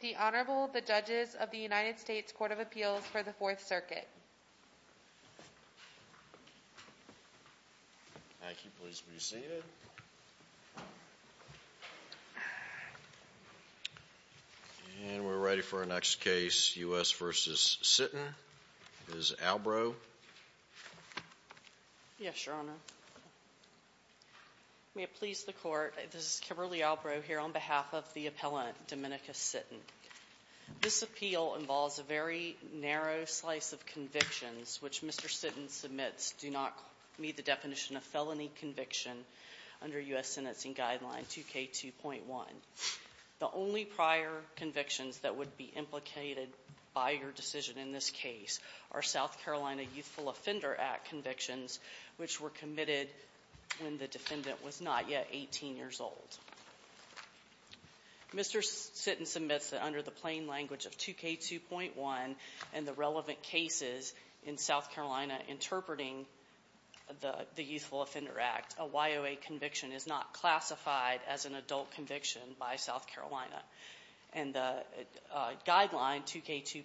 The Honorable, the Judges of the United States Court of Appeals for the Fourth Circuit. Thank you. Please be seated. And we're ready for our next case, U.S. v. Sitton. Ms. Albrow. Yes, Your Honor. May it please the Court, this is Kimberly Albrow here on behalf of the appellant, Dominica Sitton. This appeal involves a very narrow slice of convictions which Mr. Sitton submits do not meet the definition of felony conviction under U.S. Sentencing Guideline 2K2.1. The only prior convictions that would be implicated by your decision in this case are South Carolina Youthful Offender Act convictions which were committed when the defendant was not yet 18 years old. Mr. Sitton submits that under the plain language of 2K2.1 and the relevant cases in South Carolina interpreting the Youthful Offender Act, a YOA conviction is not classified as an adult conviction by South Carolina. And the guideline, 2K2.1,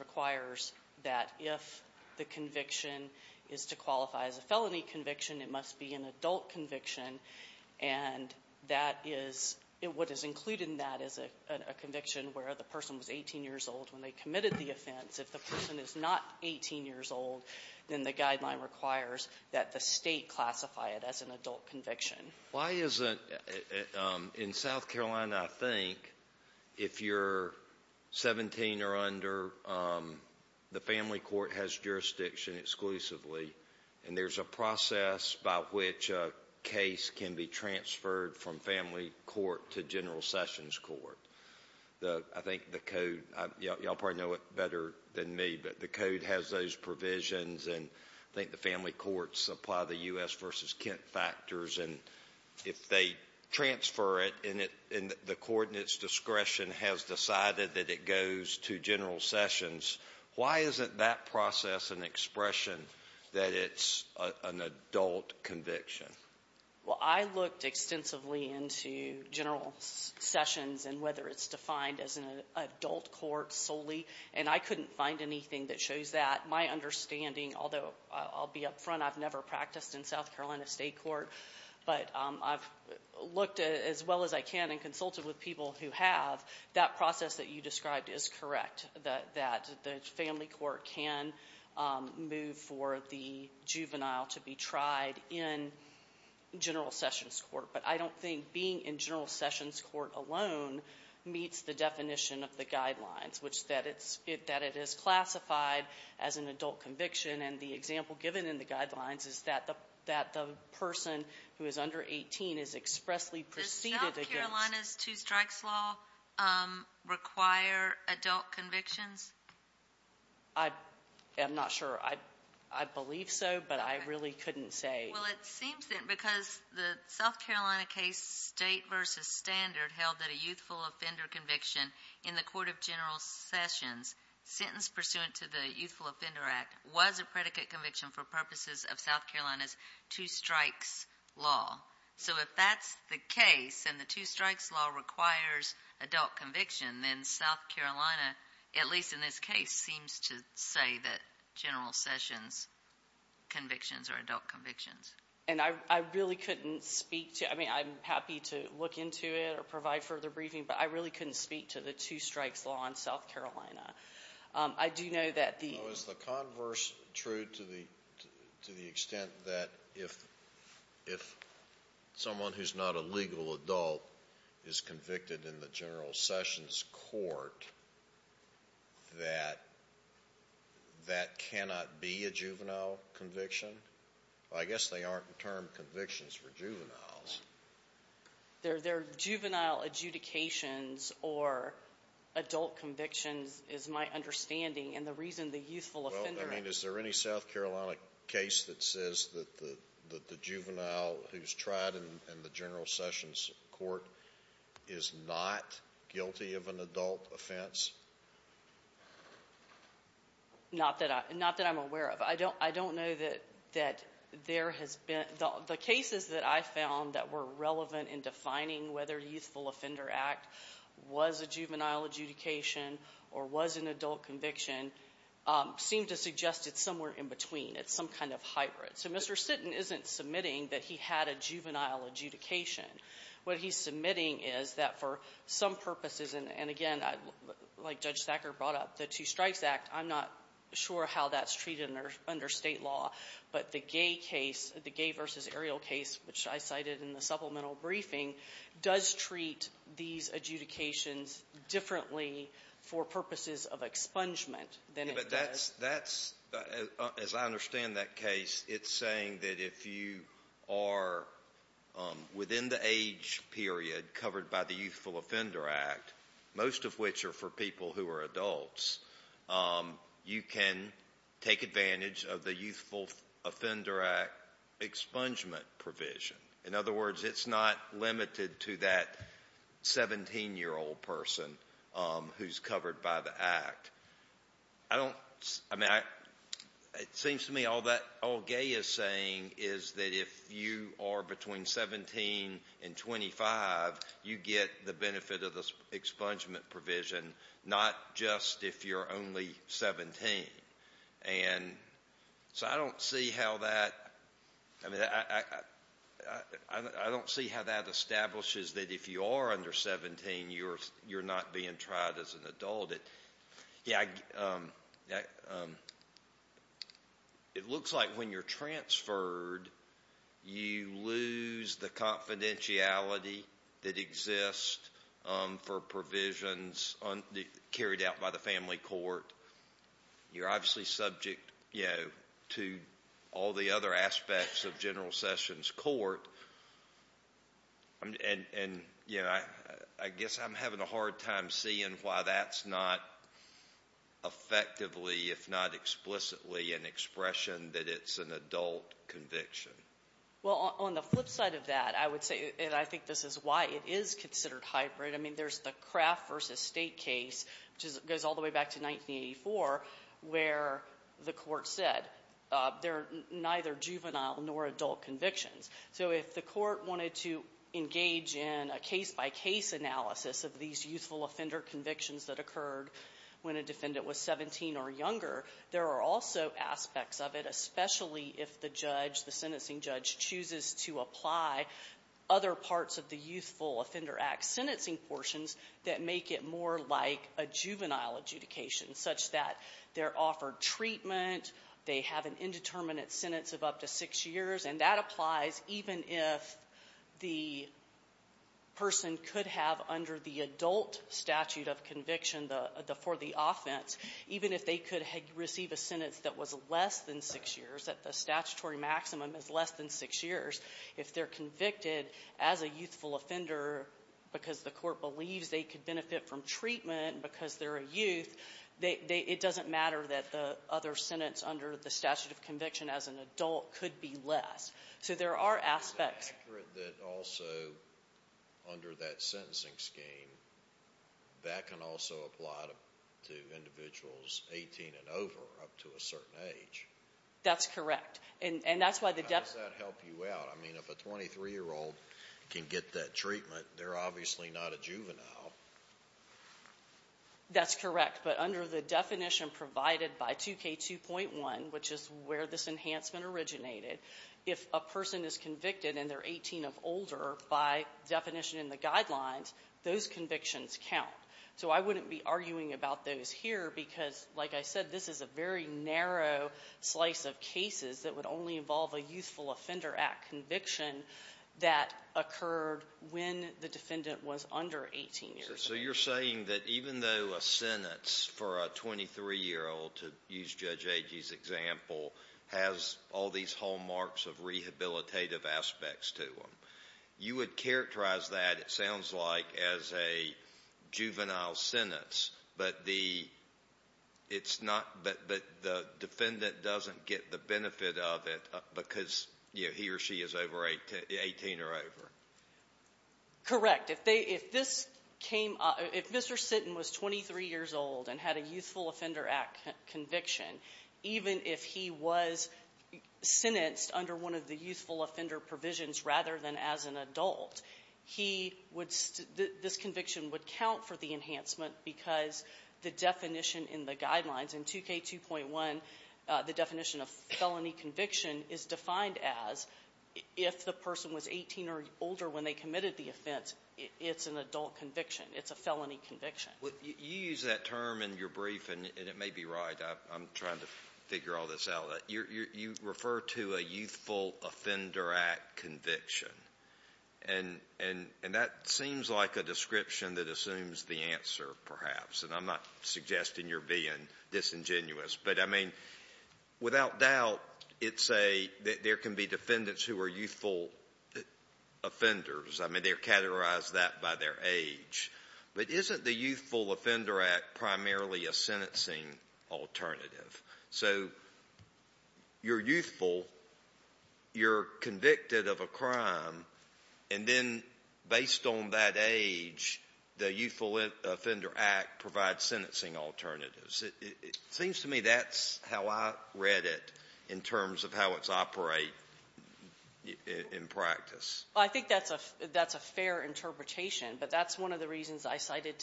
requires that if the conviction is to qualify as a felony conviction, it must be an adult conviction. And that is what is included in that is a conviction where the person was 18 years old when they committed the offense. If the person is not 18 years old, then the guideline requires that the State classify it as an adult conviction. Why is it in South Carolina, I think, if you're 17 or under, the family court has jurisdiction exclusively and there's a process by which a case can be transferred from family court to general sessions court. I think the code, you all probably know it better than me, but the code has those provisions and I think the family courts apply the U.S. versus Kent factors. And if they transfer it and the court in its discretion has decided that it goes to general sessions, why isn't that process an expression that it's an adult conviction? Well, I looked extensively into general sessions and whether it's defined as an adult court solely, and I couldn't find anything that shows that. My understanding, although I'll be up front, I've never practiced in South Carolina State Court, but I've looked as well as I can and consulted with people who have. That process that you described is correct, that the family court can move for the juvenile to be tried in general sessions court. But I don't think being in general sessions court alone meets the definition of the guidelines, which that it is classified as an adult conviction. And the example given in the guidelines is that the person who is under 18 is expressly preceded against. Does South Carolina's two strikes law require adult convictions? I'm not sure. I believe so, but I really couldn't say. Well, it seems that because the South Carolina case state versus standard held that a youthful offender conviction in the court of general sessions, sentence pursuant to the Youthful Offender Act was a predicate conviction for purposes of South Carolina's two strikes law. So if that's the case and the two strikes law requires adult conviction, then South Carolina, at least in this case, seems to say that general sessions convictions are adult convictions. And I really couldn't speak to it. I mean, I'm happy to look into it or provide further briefing, but I really couldn't speak to the two strikes law in South Carolina. Is the converse true to the extent that if someone who's not a legal adult is convicted in the general sessions court, that that cannot be a juvenile conviction? I guess they aren't termed convictions for juveniles. Their juvenile adjudications or adult convictions is my understanding, and the reason the youthful offender act. Well, I mean, is there any South Carolina case that says that the juvenile who's tried in the general sessions court is not guilty of an adult offense? Not that I'm aware of. I don't know that there has been. The cases that I found that were relevant in defining whether youthful offender act was a juvenile adjudication or was an adult conviction seem to suggest it's somewhere in between. It's some kind of hybrid. So Mr. Sitton isn't submitting that he had a juvenile adjudication. What he's submitting is that for some purposes, and again, like Judge Thacker brought up, the two strikes act, I'm not sure how that's treated under State law, but the gay case, the gay versus aerial case, which I cited in the supplemental briefing, does treat these adjudications differently for purposes of expungement than it does. But that's, as I understand that case, it's saying that if you are within the age period covered by the Youthful Offender Act, most of which are for people who are adults, you can take advantage of the Youthful Offender Act expungement provision. In other words, it's not limited to that 17-year-old person who's covered by the act. I don't, I mean, it seems to me all gay is saying is that if you are between 17 and 25, you get the benefit of the expungement provision, not just if you're only 17. And so I don't see how that, I mean, I don't see how that establishes that if you are under 17, you're not being tried as an adult. It looks like when you're transferred, you lose the confidentiality that exists for provisions carried out by the family court. You're obviously subject to all the other aspects of General Sessions' court. And, you know, I guess I'm having a hard time seeing why that's not effectively, if not explicitly, an expression that it's an adult conviction. Well, on the flip side of that, I would say, and I think this is why it is considered hybrid, I mean, there's the Kraft v. State case, which goes all the way back to 1984, where the Court said they're neither juvenile nor adult convictions. So if the Court wanted to engage in a case-by-case analysis of these youthful offender convictions that occurred when a defendant was 17 or younger, there are also aspects of it, especially if the judge, the sentencing judge, chooses to apply other parts of the Youthful Offender Act sentencing portions that make it more like a juvenile adjudication, such that they're offered treatment, they have an indeterminate sentence of up to six years, and that applies even if the person could have, under the adult statute of conviction for the offense, even if they could receive a sentence that was less than six years, that the statutory maximum is less than six years, if they're convicted as a youthful offender because the Court believes they could benefit from treatment because they're a youth, it doesn't matter that the other sentence under the statute of conviction as an adult could be less. So there are aspects. Is it accurate that also, under that sentencing scheme, that can also apply to individuals 18 and over, up to a certain age? That's correct. And that's why the depth... I mean, if a 23-year-old can get that treatment, they're obviously not a juvenile. That's correct. But under the definition provided by 2K2.1, which is where this enhancement originated, if a person is convicted and they're 18 or older, by definition in the guidelines, those convictions count. So I wouldn't be arguing about those here because, like I said, this is a very narrow slice of cases that would only involve a youthful offender act conviction that occurred when the defendant was under 18 years old. So you're saying that even though a sentence for a 23-year-old, to use Judge Agee's example, has all these hallmarks of rehabilitative aspects to them, you would characterize that, it sounds like, as a juvenile sentence, but the defendant doesn't get the benefit of it because he or she is over 18 or over. Correct. If this came up, if Mr. Sitton was 23 years old and had a youthful offender act conviction, even if he was sentenced under one of the youthful offender provisions rather than as an adult, he would — this conviction would count for the enhancement because the definition in the guidelines, in 2K2.1, the definition of felony conviction is defined as if the person was 18 or older when they committed the offense, it's an adult conviction. It's a felony conviction. Well, you use that term in your brief, and it may be right. I'm trying to figure all this out. You refer to a youthful offender act conviction, and that seems like a description that assumes the answer, perhaps, and I'm not suggesting you're being disingenuous. But, I mean, without doubt, it's a — there can be defendants who are youthful offenders. I mean, they're categorized that by their age. But isn't the youthful offender act primarily a sentencing alternative? So you're youthful, you're convicted of a crime, and then based on that age, the youthful offender act provides sentencing alternatives. It seems to me that's how I read it in terms of how it's operated in practice. Well, I think that's a fair interpretation, but that's one of the reasons I cited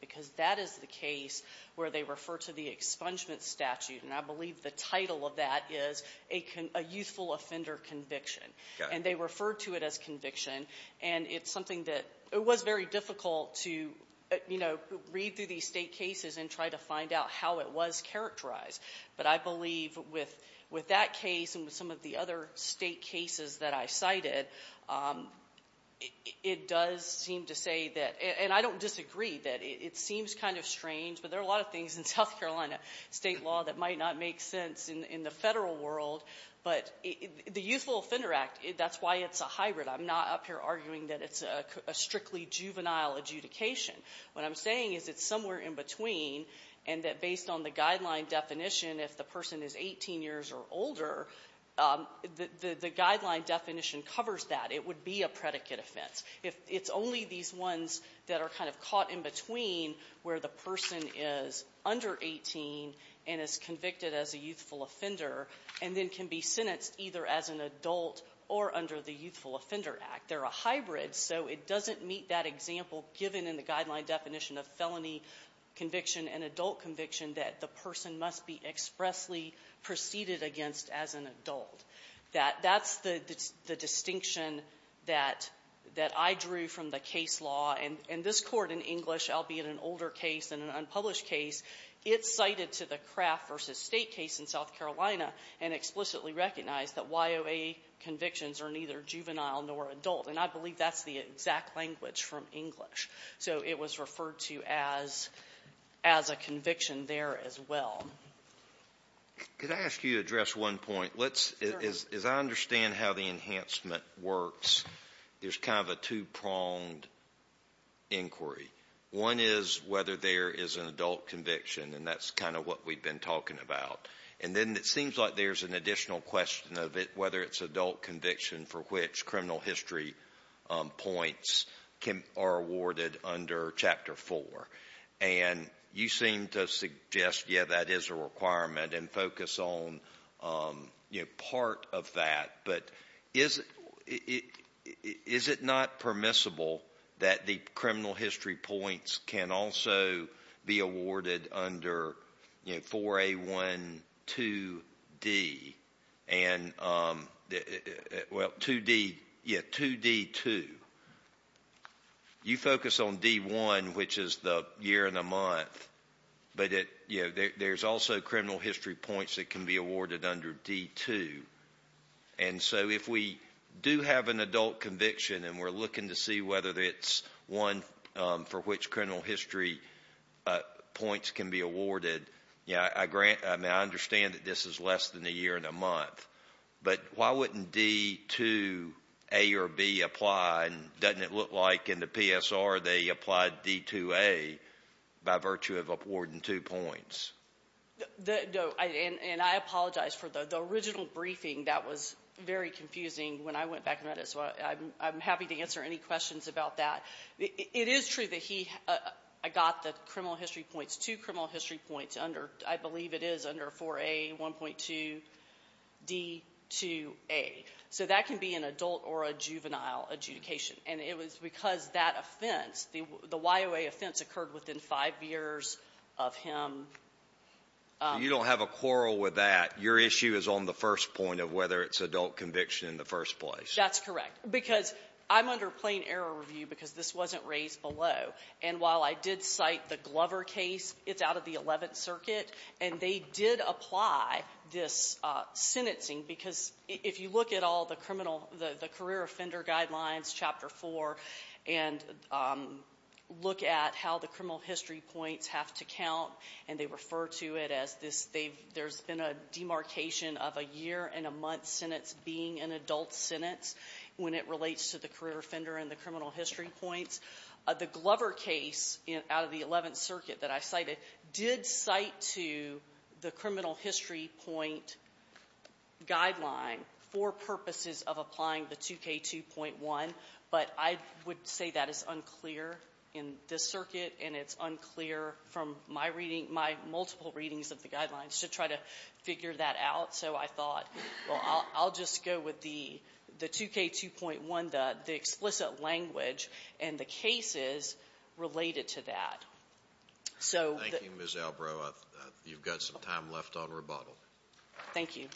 because that is the case where they refer to the expungement statute, and I believe the title of that is a youthful offender conviction. Got it. And they refer to it as conviction, and it's something that — it was very difficult to, you know, read through these State cases and try to find out how it was characterized. But I believe with that case and with some of the other State cases that I cited, it does seem to say that — and I don't disagree that it seems kind of strange, but there are a lot of things in South Carolina State law that might not make sense in the federal world. But the youthful offender act, that's why it's a hybrid. I'm not up here arguing that it's a strictly juvenile adjudication. What I'm saying is it's somewhere in between and that based on the guideline definition, if the person is 18 years or older, the guideline definition covers that. It would be a predicate offense. It's only these ones that are kind of caught in between where the person is under 18 and is convicted as a youthful offender and then can be sentenced either as an adult or under the youthful offender act. They're a hybrid, so it doesn't meet that example given in the guideline definition of felony conviction and adult conviction that the person must be expressly preceded against as an adult. That's the distinction that I drew from the case law. And this Court in English, albeit an older case and an unpublished case, it cited to the Kraft v. State case in South Carolina and explicitly recognized that YOA convictions are neither juvenile nor adult. And I believe that's the exact language from English. So it was referred to as a conviction there as well. Could I ask you to address one point? Sure. As I understand how the enhancement works, there's kind of a two-pronged inquiry. One is whether there is an adult conviction, and that's kind of what we've been talking about. And then it seems like there's an additional question of whether it's adult conviction for which criminal history points are awarded under Chapter 4. And you seem to suggest, yeah, that is a requirement and focus on part of that. But is it not permissible that the criminal history points can also be awarded under 4A12D? And, well, 2D2, you focus on D1, which is the year and the month, but there's also criminal history points that can be awarded under D2. And so if we do have an adult conviction and we're looking to see whether it's one for which criminal history points can be awarded, I understand that this is less than a year and a month, but why wouldn't D2A or B apply? Doesn't it look like in the PSR they applied D2A by virtue of awarding two points? And I apologize for the original briefing. That was very confusing when I went back and read it, so I'm happy to answer any questions about that. It is true that he got the criminal history points, two criminal history points, under, I believe it is under 4A1.2D2A. So that can be an adult or a juvenile adjudication. And it was because that offense, the YOA offense, occurred within five years of him. So you don't have a quarrel with that. Your issue is on the first point of whether it's adult conviction in the first place. That's correct. Because I'm under plain error review because this wasn't raised below. And while I did cite the Glover case, it's out of the Eleventh Circuit, and they did apply this sentencing because if you look at all the criminal, the career offender guidelines, Chapter 4, and look at how the criminal history points have to count and they refer to it as this, there's been a demarcation of a year and a month sentence being an adult sentence. When it relates to the career offender and the criminal history points, the Glover case out of the Eleventh Circuit that I cited did cite to the criminal history point guideline for purposes of applying the 2K2.1. But I would say that is unclear in this circuit, and it's unclear from my multiple readings of the guidelines to try to figure that out. So I thought, well, I'll just go with the 2K2.1, the explicit language, and the cases related to that. Thank you, Ms. Albro. You've got some time left on rebuttal. Thank you.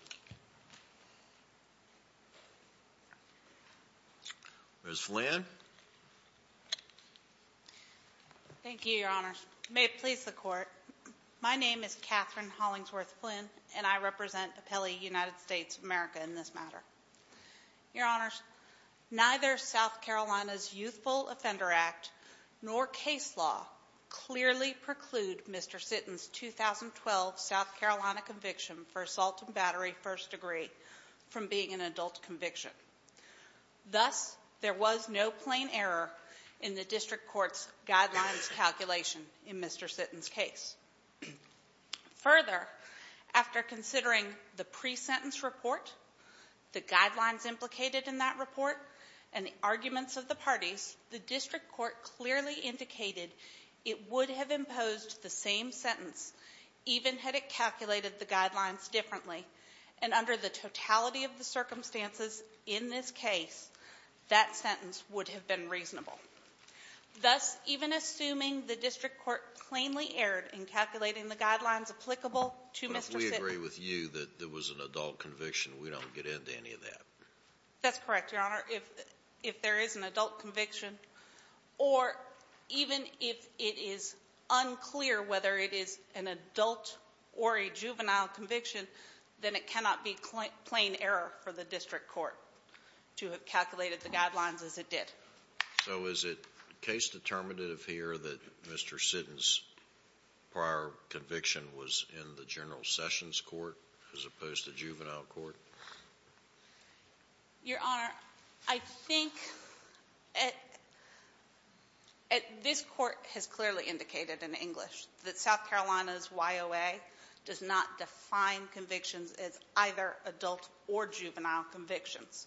Ms. Flynn. May it please the Court. My name is Katherine Hollingsworth Flynn, and I represent Appellee United States of America in this matter. Your Honors, neither South Carolina's Youthful Offender Act nor case law clearly preclude Mr. Sitton's 2012 South Carolina conviction for assault and battery first degree from being an adult conviction. Thus, there was no plain error in the district court's guidelines calculation in Mr. Sitton's case. Further, after considering the pre-sentence report, the guidelines implicated in that report, and the arguments of the parties, the district court clearly indicated it would have imposed the same sentence even had it calculated the guidelines differently. And under the totality of the circumstances in this case, that sentence would have been reasonable. Thus, even assuming the district court plainly erred in calculating the guidelines applicable to Mr. Sitton. But we agree with you that there was an adult conviction. We don't get into any of that. That's correct, Your Honor. If there is an adult conviction, or even if it is unclear whether it is an adult or a juvenile conviction, then it cannot be plain error for the district court to have calculated the guidelines as it did. So is it case determinative here that Mr. Sitton's prior conviction was in the General Sessions court as opposed to juvenile court? Your Honor, I think this court has clearly indicated in English that South Carolina's YOA does not define convictions as either adult or juvenile convictions.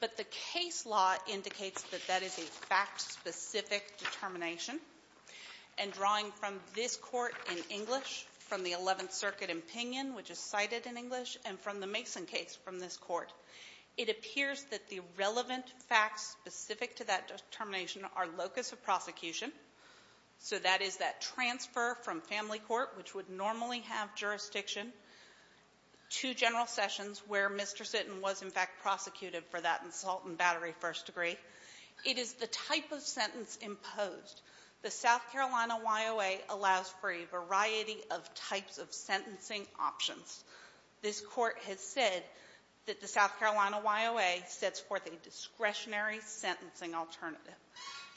But the case law indicates that that is a fact-specific determination. And drawing from this court in English, from the Eleventh Circuit opinion, which is cited in English, and from the Mason case from this court, it appears that the relevant facts specific to that determination are locus of prosecution. So that is that transfer from family court, which would normally have jurisdiction to General Sessions, where Mr. Sitton was, in fact, prosecuted for that assault and battery first degree. It is the type of sentence imposed. The South Carolina YOA allows for a variety of types of sentencing options. This court has said that the South Carolina YOA sets forth a discretionary sentencing alternative.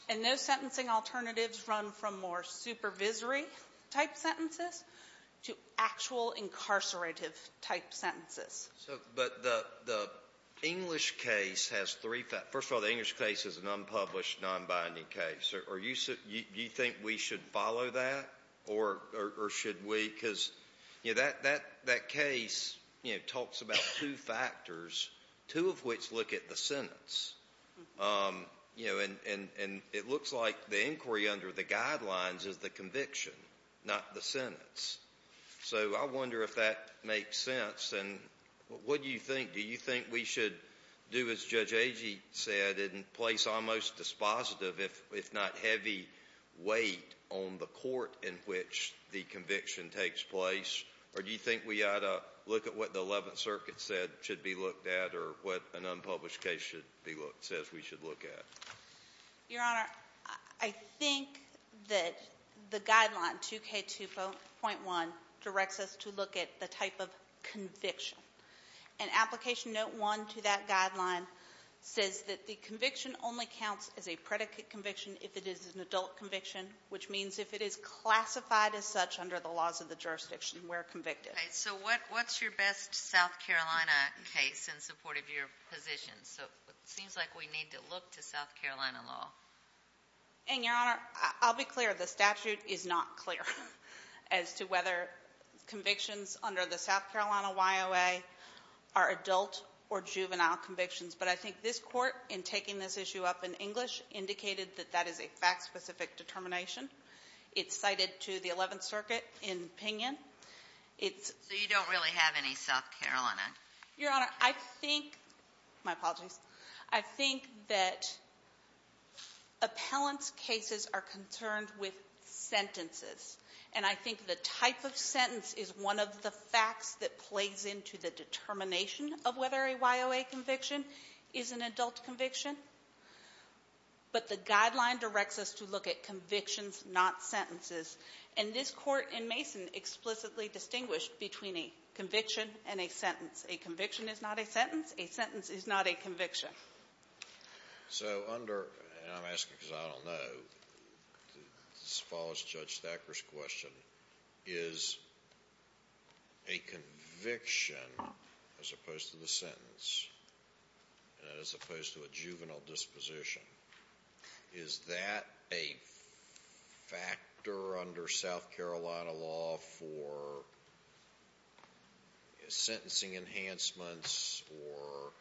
And those sentencing alternatives run from more supervisory-type sentences to actual incarcerated-type sentences. But the English case has three facts. First of all, the English case is an unpublished, nonbinding case. Do you think we should follow that, or should we? Because that case talks about two factors, two of which look at the sentence. And it looks like the inquiry under the guidelines is the conviction, not the sentence. So I wonder if that makes sense. And what do you think? Do you think we should do, as Judge Agee said, in place almost dispositive, if not heavy weight, on the court in which the conviction takes place? Or do you think we ought to look at what the Eleventh Circuit said should be looked at or what an unpublished case should be looked at, says we should look at? Your Honor, I think that the guideline, 2K2.1, directs us to look at the type of conviction. And Application Note 1 to that guideline says that the conviction only counts as a predicate conviction if it is an adult conviction, which means if it is classified as such under the laws of the jurisdiction, we're convicted. So what's your best South Carolina case in support of your position? So it seems like we need to look to South Carolina law. And, Your Honor, I'll be clear. The statute is not clear as to whether convictions under the South Carolina YOA are adult or juvenile convictions. But I think this court, in taking this issue up in English, indicated that that is a fact-specific determination. It's cited to the Eleventh Circuit in opinion. So you don't really have any South Carolina? Your Honor, I think, my apologies, I think that appellant's cases are concerned with sentences. And I think the type of sentence is one of the facts that plays into the determination of whether a YOA conviction is an adult conviction. But the guideline directs us to look at convictions, not sentences. And this court in Mason explicitly distinguished between a conviction and a sentence. A conviction is not a sentence. A sentence is not a conviction. So under, and I'm asking because I don't know, as far as Judge Thacker's question, is a conviction, as opposed to the sentence, as opposed to a juvenile disposition, is that a factor under South Carolina law for sentencing enhancements or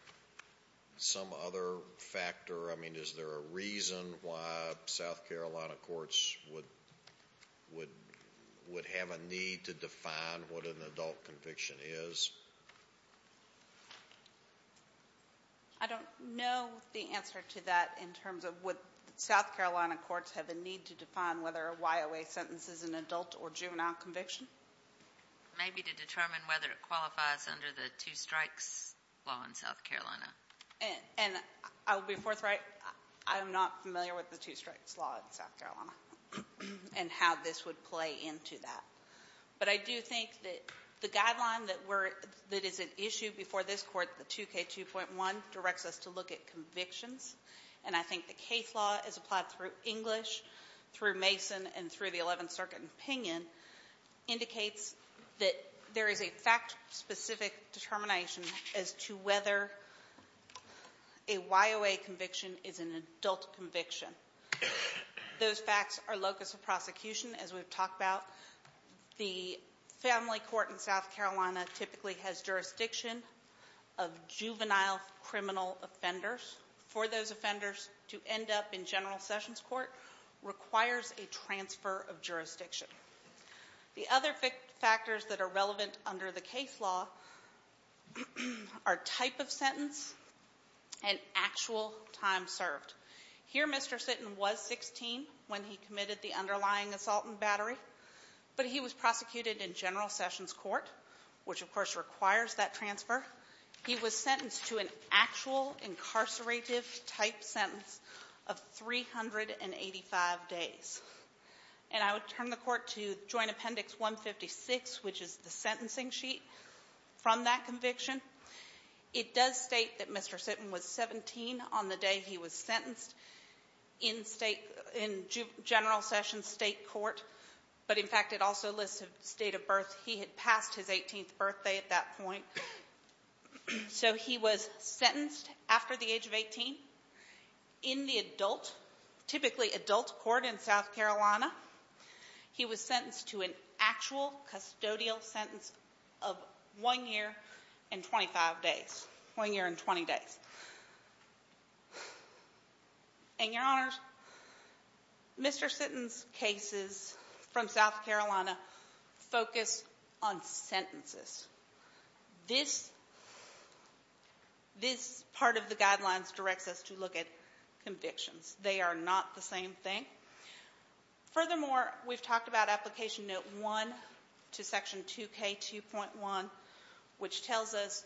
some other factor? I mean, is there a reason why South Carolina courts would have a need to define what an adult conviction is? I don't know the answer to that in terms of would South Carolina courts have a need to define whether a YOA sentence is an adult or juvenile conviction. Maybe to determine whether it qualifies under the two-strikes law in South Carolina. And I'll be forthright. I am not familiar with the two-strikes law in South Carolina and how this would play into that. But I do think that the guideline that is at issue before this court, the 2K2.1, directs us to look at convictions. And I think the case law is applied through English, through Mason, and through the Eleventh Circuit opinion, indicates that there is a fact-specific determination as to whether a YOA conviction is an adult conviction. Those facts are locus of prosecution, as we've talked about. The family court in South Carolina typically has jurisdiction of juvenile criminal offenders. For those offenders to end up in General Sessions Court requires a transfer of jurisdiction. The other factors that are relevant under the case law are type of sentence and actual time served. Here, Mr. Sitton was 16 when he committed the underlying assault and battery, but he was prosecuted in General Sessions Court, which, of course, requires that transfer. He was sentenced to an actual incarcerative-type sentence of 385 days. And I would turn the Court to Joint Appendix 156, which is the sentencing sheet from that conviction. It does state that Mr. Sitton was 17 on the day he was sentenced in state – in General Sessions State Court. But, in fact, it also lists the state of birth. He had passed his 18th birthday at that point. So he was sentenced after the age of 18 in the adult – typically adult court in South Carolina. He was sentenced to an actual custodial sentence of one year and 25 days – one year and 20 days. And, Your Honors, Mr. Sitton's cases from South Carolina focus on sentences. This – this part of the guidelines directs us to look at convictions. They are not the same thing. Furthermore, we've talked about Application Note 1 to Section 2K2.1, which tells us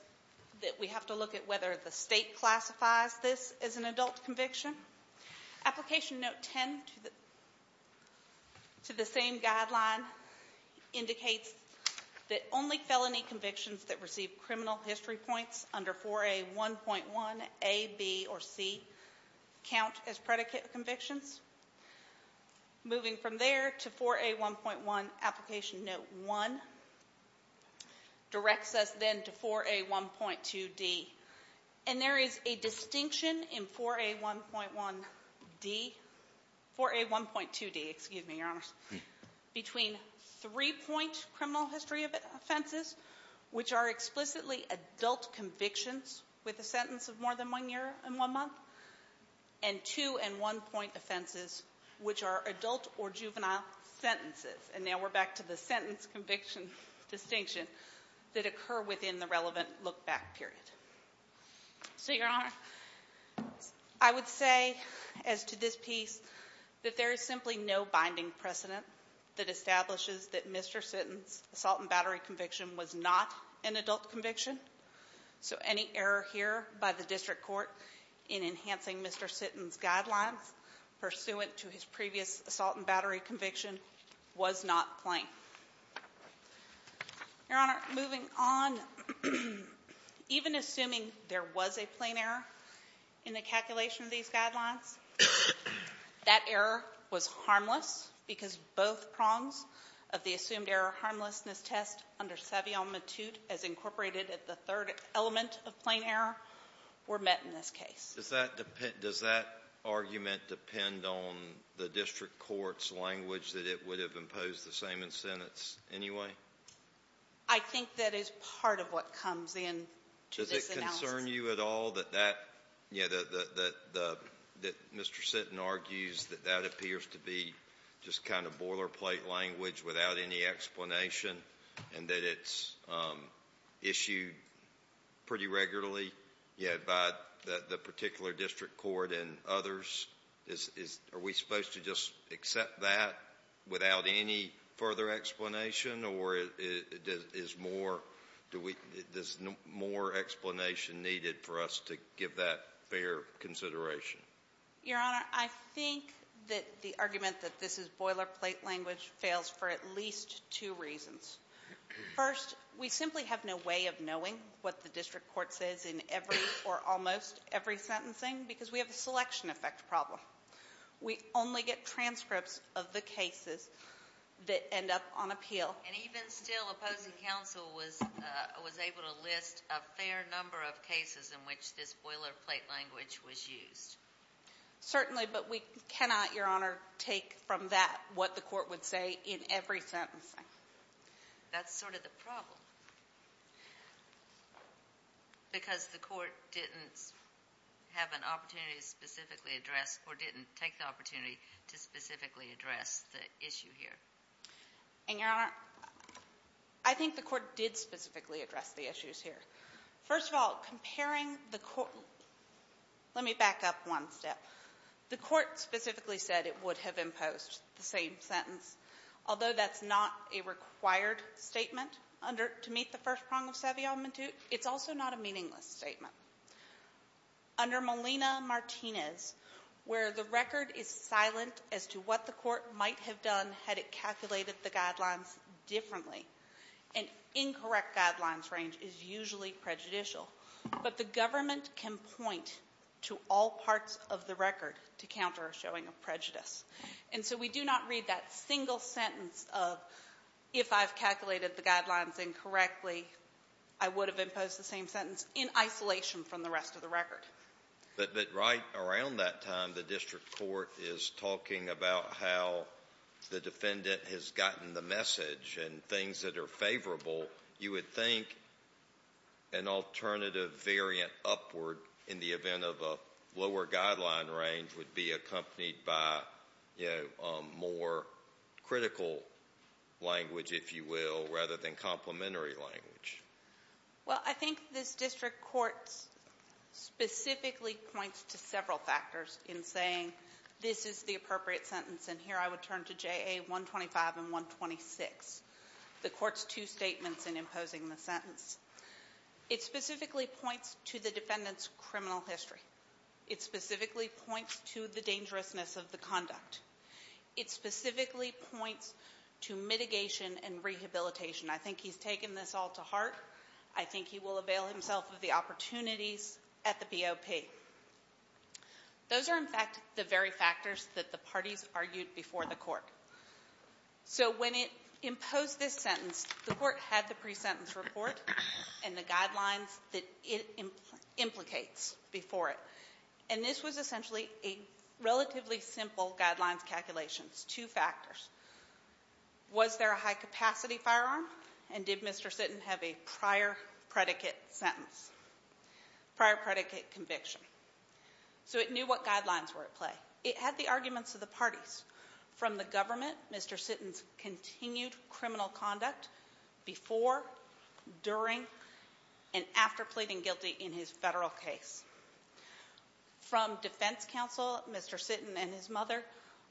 that we have to look at whether the state classifies this as an adult conviction. Application Note 10 to the – to the same guideline indicates that only felony convictions that receive criminal history points under 4A1.1a, b, or c count as predicate convictions. Moving from there to 4A1.1, Application Note 1 directs us then to 4A1.2d. And there is a distinction in 4A1.1d – 4A1.2d, excuse me, Your Honors, between three-point criminal history offenses, which are explicitly adult convictions with a sentence of more than one year and one month, and two- and one-point offenses, which are adult or juvenile sentences. And now we're back to the sentence conviction distinction that occur within the relevant look-back period. So, Your Honor, I would say as to this piece that there is simply no binding precedent that establishes that Mr. Sitton's assault and battery conviction was not an adult conviction. So any error here by the district court in enhancing Mr. Sitton's guidelines pursuant to his previous assault and battery conviction was not plain. Your Honor, moving on, even assuming there was a plain error in the calculation of these guidelines, that error was harmless because both prongs of the assumed error harmlessness test under Savillon-Matute as incorporated at the third element of plain error were met in this case. Does that argument depend on the district court's language that it would have imposed the same in sentence anyway? I think that is part of what comes in to this analysis. Does it concern you at all that Mr. Sitton argues that that appears to be just kind of boilerplate language without any explanation and that it's issued pretty regularly by the particular district court and others? Are we supposed to just accept that without any further explanation, or is more explanation needed for us to give that fair consideration? Your Honor, I think that the argument that this is boilerplate language fails for at least two reasons. First, we simply have no way of knowing what the district court says in every or almost every sentencing because we have a selection effect problem. We only get transcripts of the cases that end up on appeal. And even still, opposing counsel was able to list a fair number of cases in which this boilerplate language was used. Certainly, but we cannot, Your Honor, take from that what the court would say in every sentencing. That's sort of the problem because the court didn't have an opportunity to specifically address or didn't take the opportunity to specifically address the issue here. And, Your Honor, I think the court did specifically address the issues here. First of all, comparing the court. Let me back up one step. The court specifically said it would have imposed the same sentence, although that's not a required statement to meet the first prong of Seville-Mentute. It's also not a meaningless statement. Under Molina-Martinez, where the record is silent as to what the court might have done had it calculated the guidelines differently, an incorrect guidelines range is usually prejudicial. But the government can point to all parts of the record to counter a showing of prejudice. And so we do not read that single sentence of, if I've calculated the guidelines incorrectly, I would have imposed the same sentence in isolation from the rest of the record. But right around that time, the district court is talking about how the defendant has gotten the message and things that are favorable. You would think an alternative variant upward in the event of a lower guideline range would be accompanied by more critical language, if you will, rather than complementary language. Well, I think this district court specifically points to several factors in saying this is the appropriate sentence, and here I would turn to JA 125 and 126, the court's two statements in imposing the sentence. It specifically points to the defendant's criminal history. It specifically points to the dangerousness of the conduct. It specifically points to mitigation and rehabilitation. I think he's taken this all to heart. I think he will avail himself of the opportunities at the BOP. Those are, in fact, the very factors that the parties argued before the court. So when it imposed this sentence, the court had the pre-sentence report and the guidelines that it implicates before it. And this was essentially a relatively simple guidelines calculation. It's two factors. Was there a high-capacity firearm, and did Mr. Sitton have a prior predicate conviction? So it knew what guidelines were at play. It had the arguments of the parties. From the government, Mr. Sitton's continued criminal conduct before, during, and after pleading guilty in his federal case. From defense counsel, Mr. Sitton and his mother,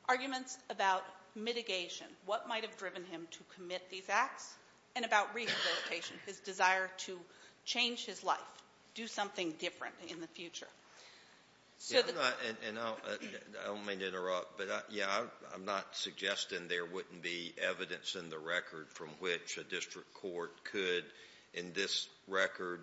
arguments about mitigation, what might have driven him to commit these acts, and about rehabilitation, his desire to change his life, do something different in the future. So the ---- And I don't mean to interrupt, but, yeah, I'm not suggesting there wouldn't be evidence in the record from which a district court could, in this record,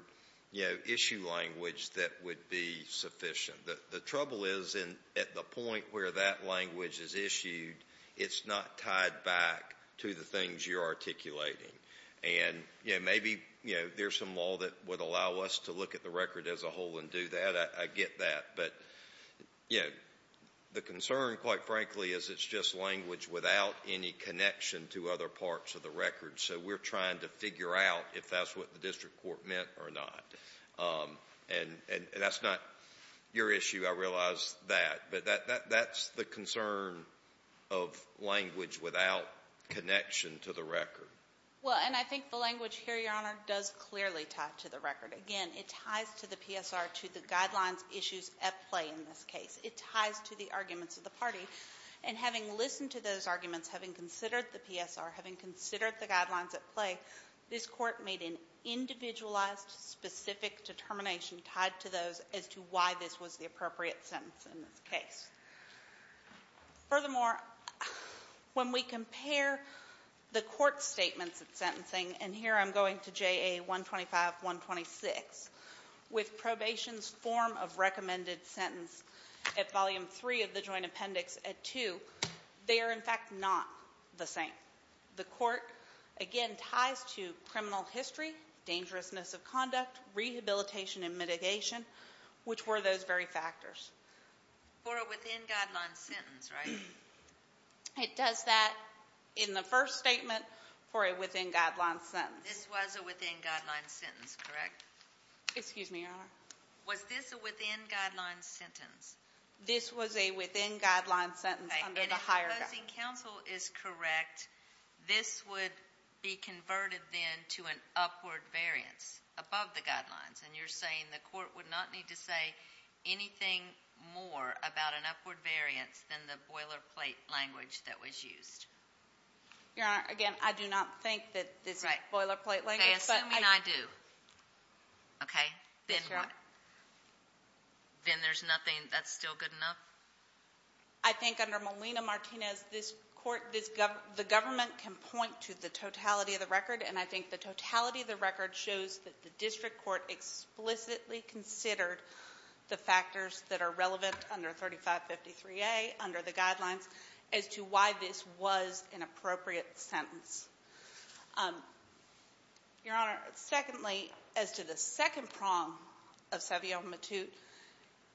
you know, issue language that would be sufficient. The trouble is, at the point where that language is issued, it's not tied back to the things you're articulating. And, you know, maybe, you know, there's some law that would allow us to look at the record as a whole and do that. I get that. But, you know, the concern, quite frankly, is it's just language without any connection to other parts of the record. So we're trying to figure out if that's what the district court meant or not. And that's not your issue, I realize that. But that's the concern of language without connection to the record. Well, and I think the language here, Your Honor, does clearly tie to the record. Again, it ties to the PSR to the guidelines issues at play in this case. It ties to the arguments of the party. And having listened to those arguments, having considered the PSR, having considered the guidelines at play, this court made an individualized, specific determination tied to those as to why this was the appropriate sentence in this case. Furthermore, when we compare the court statements at sentencing, and here I'm going to JA 125-126, with probation's form of recommended sentence at Volume 3 of the Joint Appendix at 2, they are, in fact, not the same. The court, again, ties to criminal history, dangerousness of conduct, rehabilitation and mitigation, which were those very factors. For a within-guideline sentence, right? It does that in the first statement for a within-guideline sentence. This was a within-guideline sentence, correct? Excuse me, Your Honor. Was this a within-guideline sentence? This was a within-guideline sentence under the higher guidance. If the licensing counsel is correct, this would be converted then to an upward variance above the guidelines, and you're saying the court would not need to say anything more about an upward variance than the boilerplate language that was used? Your Honor, again, I do not think that this boilerplate language. Okay, assume I do. Okay? Then what? Then there's nothing that's still good enough? I think under Molina-Martinez, the government can point to the totality of the record, and I think the totality of the record shows that the district court explicitly considered the factors that are relevant under 3553A under the guidelines as to why this was an appropriate sentence. Your Honor, secondly, as to the second prong of Savillon-Matute,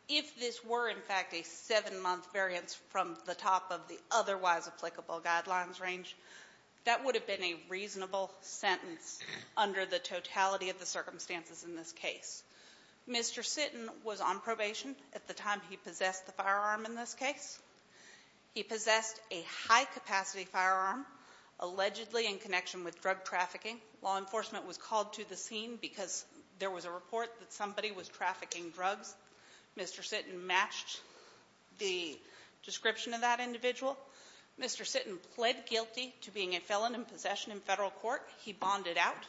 if this were in fact a seven-month variance from the top of the otherwise applicable guidelines range, that would have been a reasonable sentence under the totality of the circumstances in this case. Mr. Sitton was on probation at the time he possessed the firearm in this case. He possessed a high-capacity firearm, allegedly in connection with drug trafficking. Law enforcement was called to the scene because there was a report that somebody was trafficking drugs. Mr. Sitton matched the description of that individual. Mr. Sitton pled guilty to being a felon in possession in federal court. He bonded out.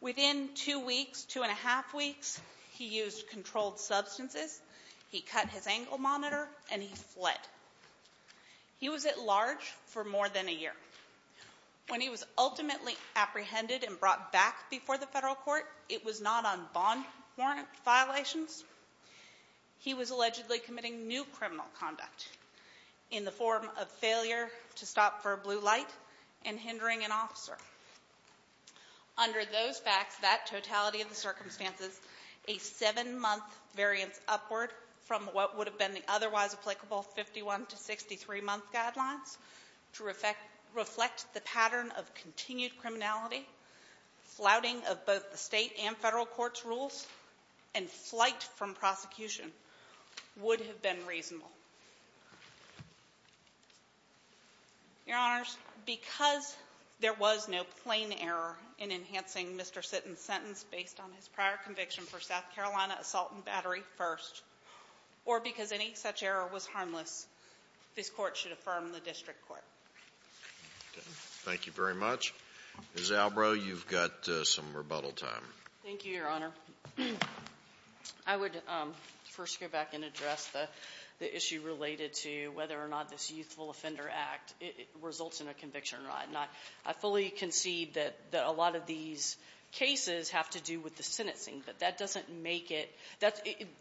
Within two weeks, two and a half weeks, he used controlled substances. He cut his angle monitor, and he fled. He was at large for more than a year. When he was ultimately apprehended and brought back before the federal court, it was not on bond warrant violations. He was allegedly committing new criminal conduct in the form of failure to stop for a blue light and hindering an officer. Under those facts, that totality of the circumstances, a seven-month variance upward from what would have been the otherwise applicable 51- to 63-month guidelines to reflect the pattern of continued criminality, flouting of both the state and federal court's rules, and flight from prosecution would have been reasonable. Your Honors, because there was no plain error in enhancing Mr. Sitton's sentence based on his prior conviction for South Carolina assault and battery first, or because any such error was harmless, this Court should affirm the district court. Thank you very much. Ms. Albrow, you've got some rebuttal time. Thank you, Your Honor. I would first go back and address the issue related to whether or not this Youthful Offender Act results in a conviction or not. I fully concede that a lot of these cases have to do with the sentencing, but that doesn't make it.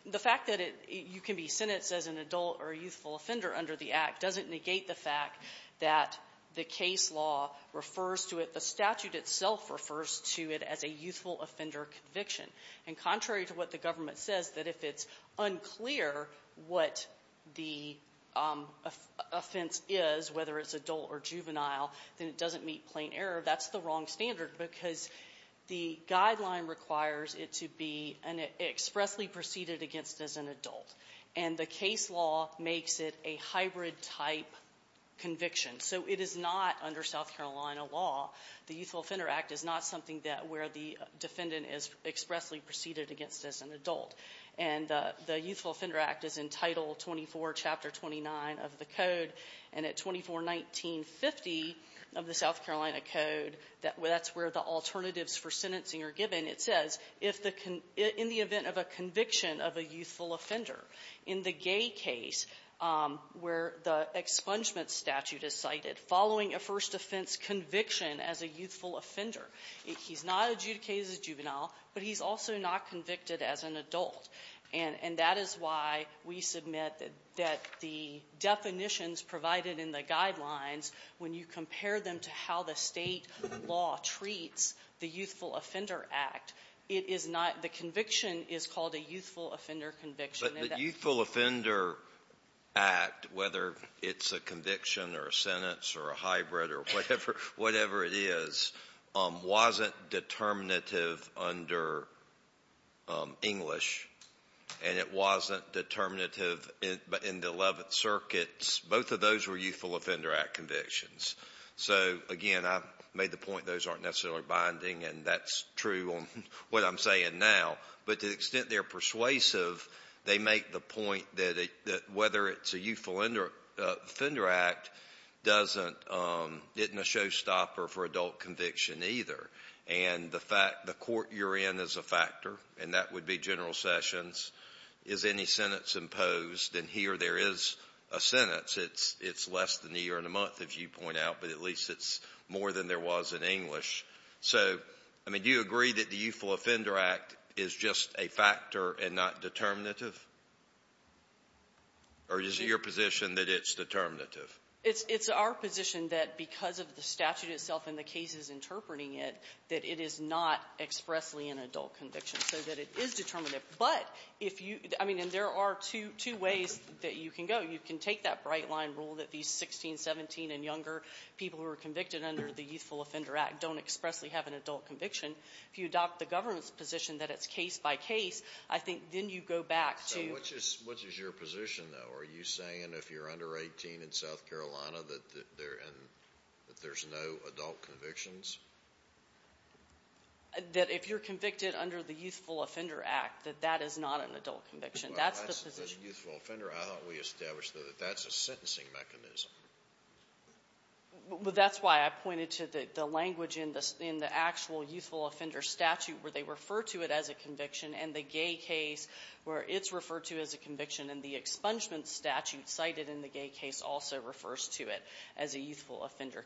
The fact that you can be sentenced as an adult or a youthful offender under the Act doesn't negate the fact that the case law refers to it, the statute itself refers to it as a youthful offender conviction. And contrary to what the government says, that if it's unclear what the offense is, whether it's adult or juvenile, then it doesn't meet plain error, that's the wrong standard because the guideline requires it to be expressly preceded against as an adult. And the case law makes it a hybrid-type conviction. So it is not, under South Carolina law, the Youthful Offender Act is not something that where the defendant is expressly preceded against as an adult. And the Youthful Offender Act is in Title 24, Chapter 29 of the Code. And at 2419.50 of the South Carolina Code, that's where the alternatives for sentencing are given. It says, if the con --"in the event of a conviction of a youthful offender." cited following a first offense conviction as a youthful offender. He's not adjudicated as a juvenile, but he's also not convicted as an adult. And that is why we submit that the definitions provided in the guidelines, when you compare them to how the State law treats the Youthful Offender Act, it is not the conviction is called a youthful offender conviction. But the Youthful Offender Act, whether it's a conviction or a sentence or a hybrid or whatever, whatever it is, wasn't determinative under English, and it wasn't determinative in the Eleventh Circuit. Both of those were Youthful Offender Act convictions. So, again, I made the point those aren't necessarily binding, and that's true on what I'm saying now. But to the extent they're persuasive, they make the point that whether it's a Youthful Offender Act doesn't get in a showstopper for adult conviction either. And the fact the court you're in is a factor, and that would be General Sessions. Is any sentence imposed? And here there is a sentence. It's less than a year and a month, if you point out, but at least it's more than there was in English. So, I mean, do you agree that the Youthful Offender Act is just a factor and not determinative? Or is it your position that it's determinative? It's our position that because of the statute itself and the cases interpreting it, that it is not expressly an adult conviction, so that it is determinative. But if you — I mean, and there are two ways that you can go. You can take that bright-line rule that these 16, 17, and younger people who are convicted under the Youthful Offender Act don't expressly have an adult conviction. If you adopt the government's position that it's case-by-case, I think then you go back to — So which is your position, though? Are you saying if you're under 18 in South Carolina that there's no adult convictions? That if you're convicted under the Youthful Offender Act, that that is not an adult conviction. That's the position. Well, that says Youthful Offender. I thought we established, though, that that's a sentencing mechanism. But that's why I pointed to the language in the actual Youthful Offender statute where they refer to it as a conviction, and the gay case where it's referred to as a conviction, and the expungement statute cited in the gay case also refers to it as a youthful offender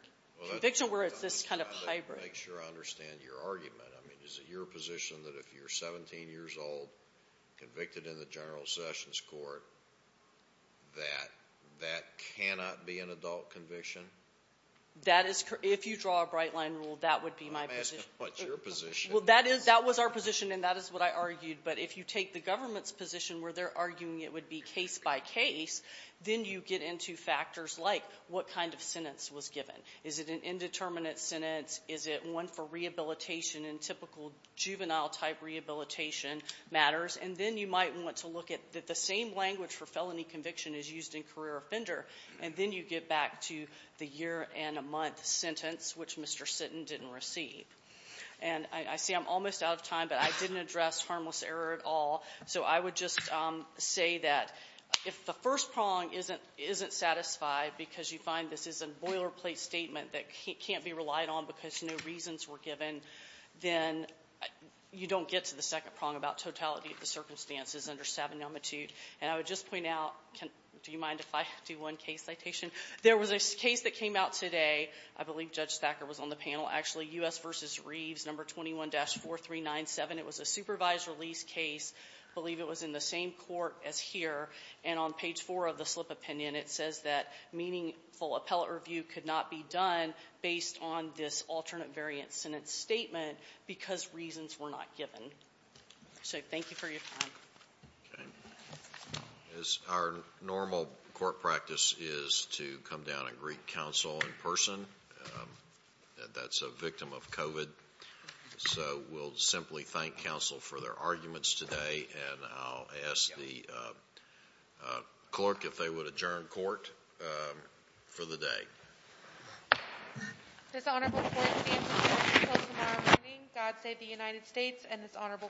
conviction, where it's this kind of hybrid. Well, that's why I'm trying to make sure I understand your argument. I mean, is it your position that if you're 17 years old, convicted in the general sessions court, that that cannot be an adult conviction? That is — if you draw a bright-line rule, that would be my position. I'm asking what's your position. Well, that is — that was our position, and that is what I argued. But if you take the government's position where they're arguing it would be case-by-case, then you get into factors like what kind of sentence was given. Is it an indeterminate sentence? Is it one for rehabilitation in typical juvenile-type rehabilitation matters? And then you might want to look at that the same language for felony conviction is used in career offender, and then you get back to the year and a month sentence, which Mr. Sitton didn't receive. And I see I'm almost out of time, but I didn't address harmless error at all. So I would just say that if the first prong isn't satisfied because you find this is a boilerplate statement that can't be relied on because no reasons were given, then you don't get to the second prong about totality of the circumstances under Sabin-Elmatout. And I would just point out — do you mind if I do one case citation? There was a case that came out today. I believe Judge Thacker was on the panel. Actually, U.S. v. Reeves, No. 21-4397. It was a supervised release case. I believe it was in the same court as here. And on page 4 of the slip opinion, it says that meaningful appellate review could not be done based on this alternate variant sentence statement because reasons were not given. So thank you for your time. Okay. Our normal court practice is to come down and greet counsel in person. That's a victim of COVID. So we'll simply thank counsel for their arguments today. And I'll ask the clerk if they would adjourn court for the day. This honorable court will be in session until tomorrow morning. God save the United States and this honorable court.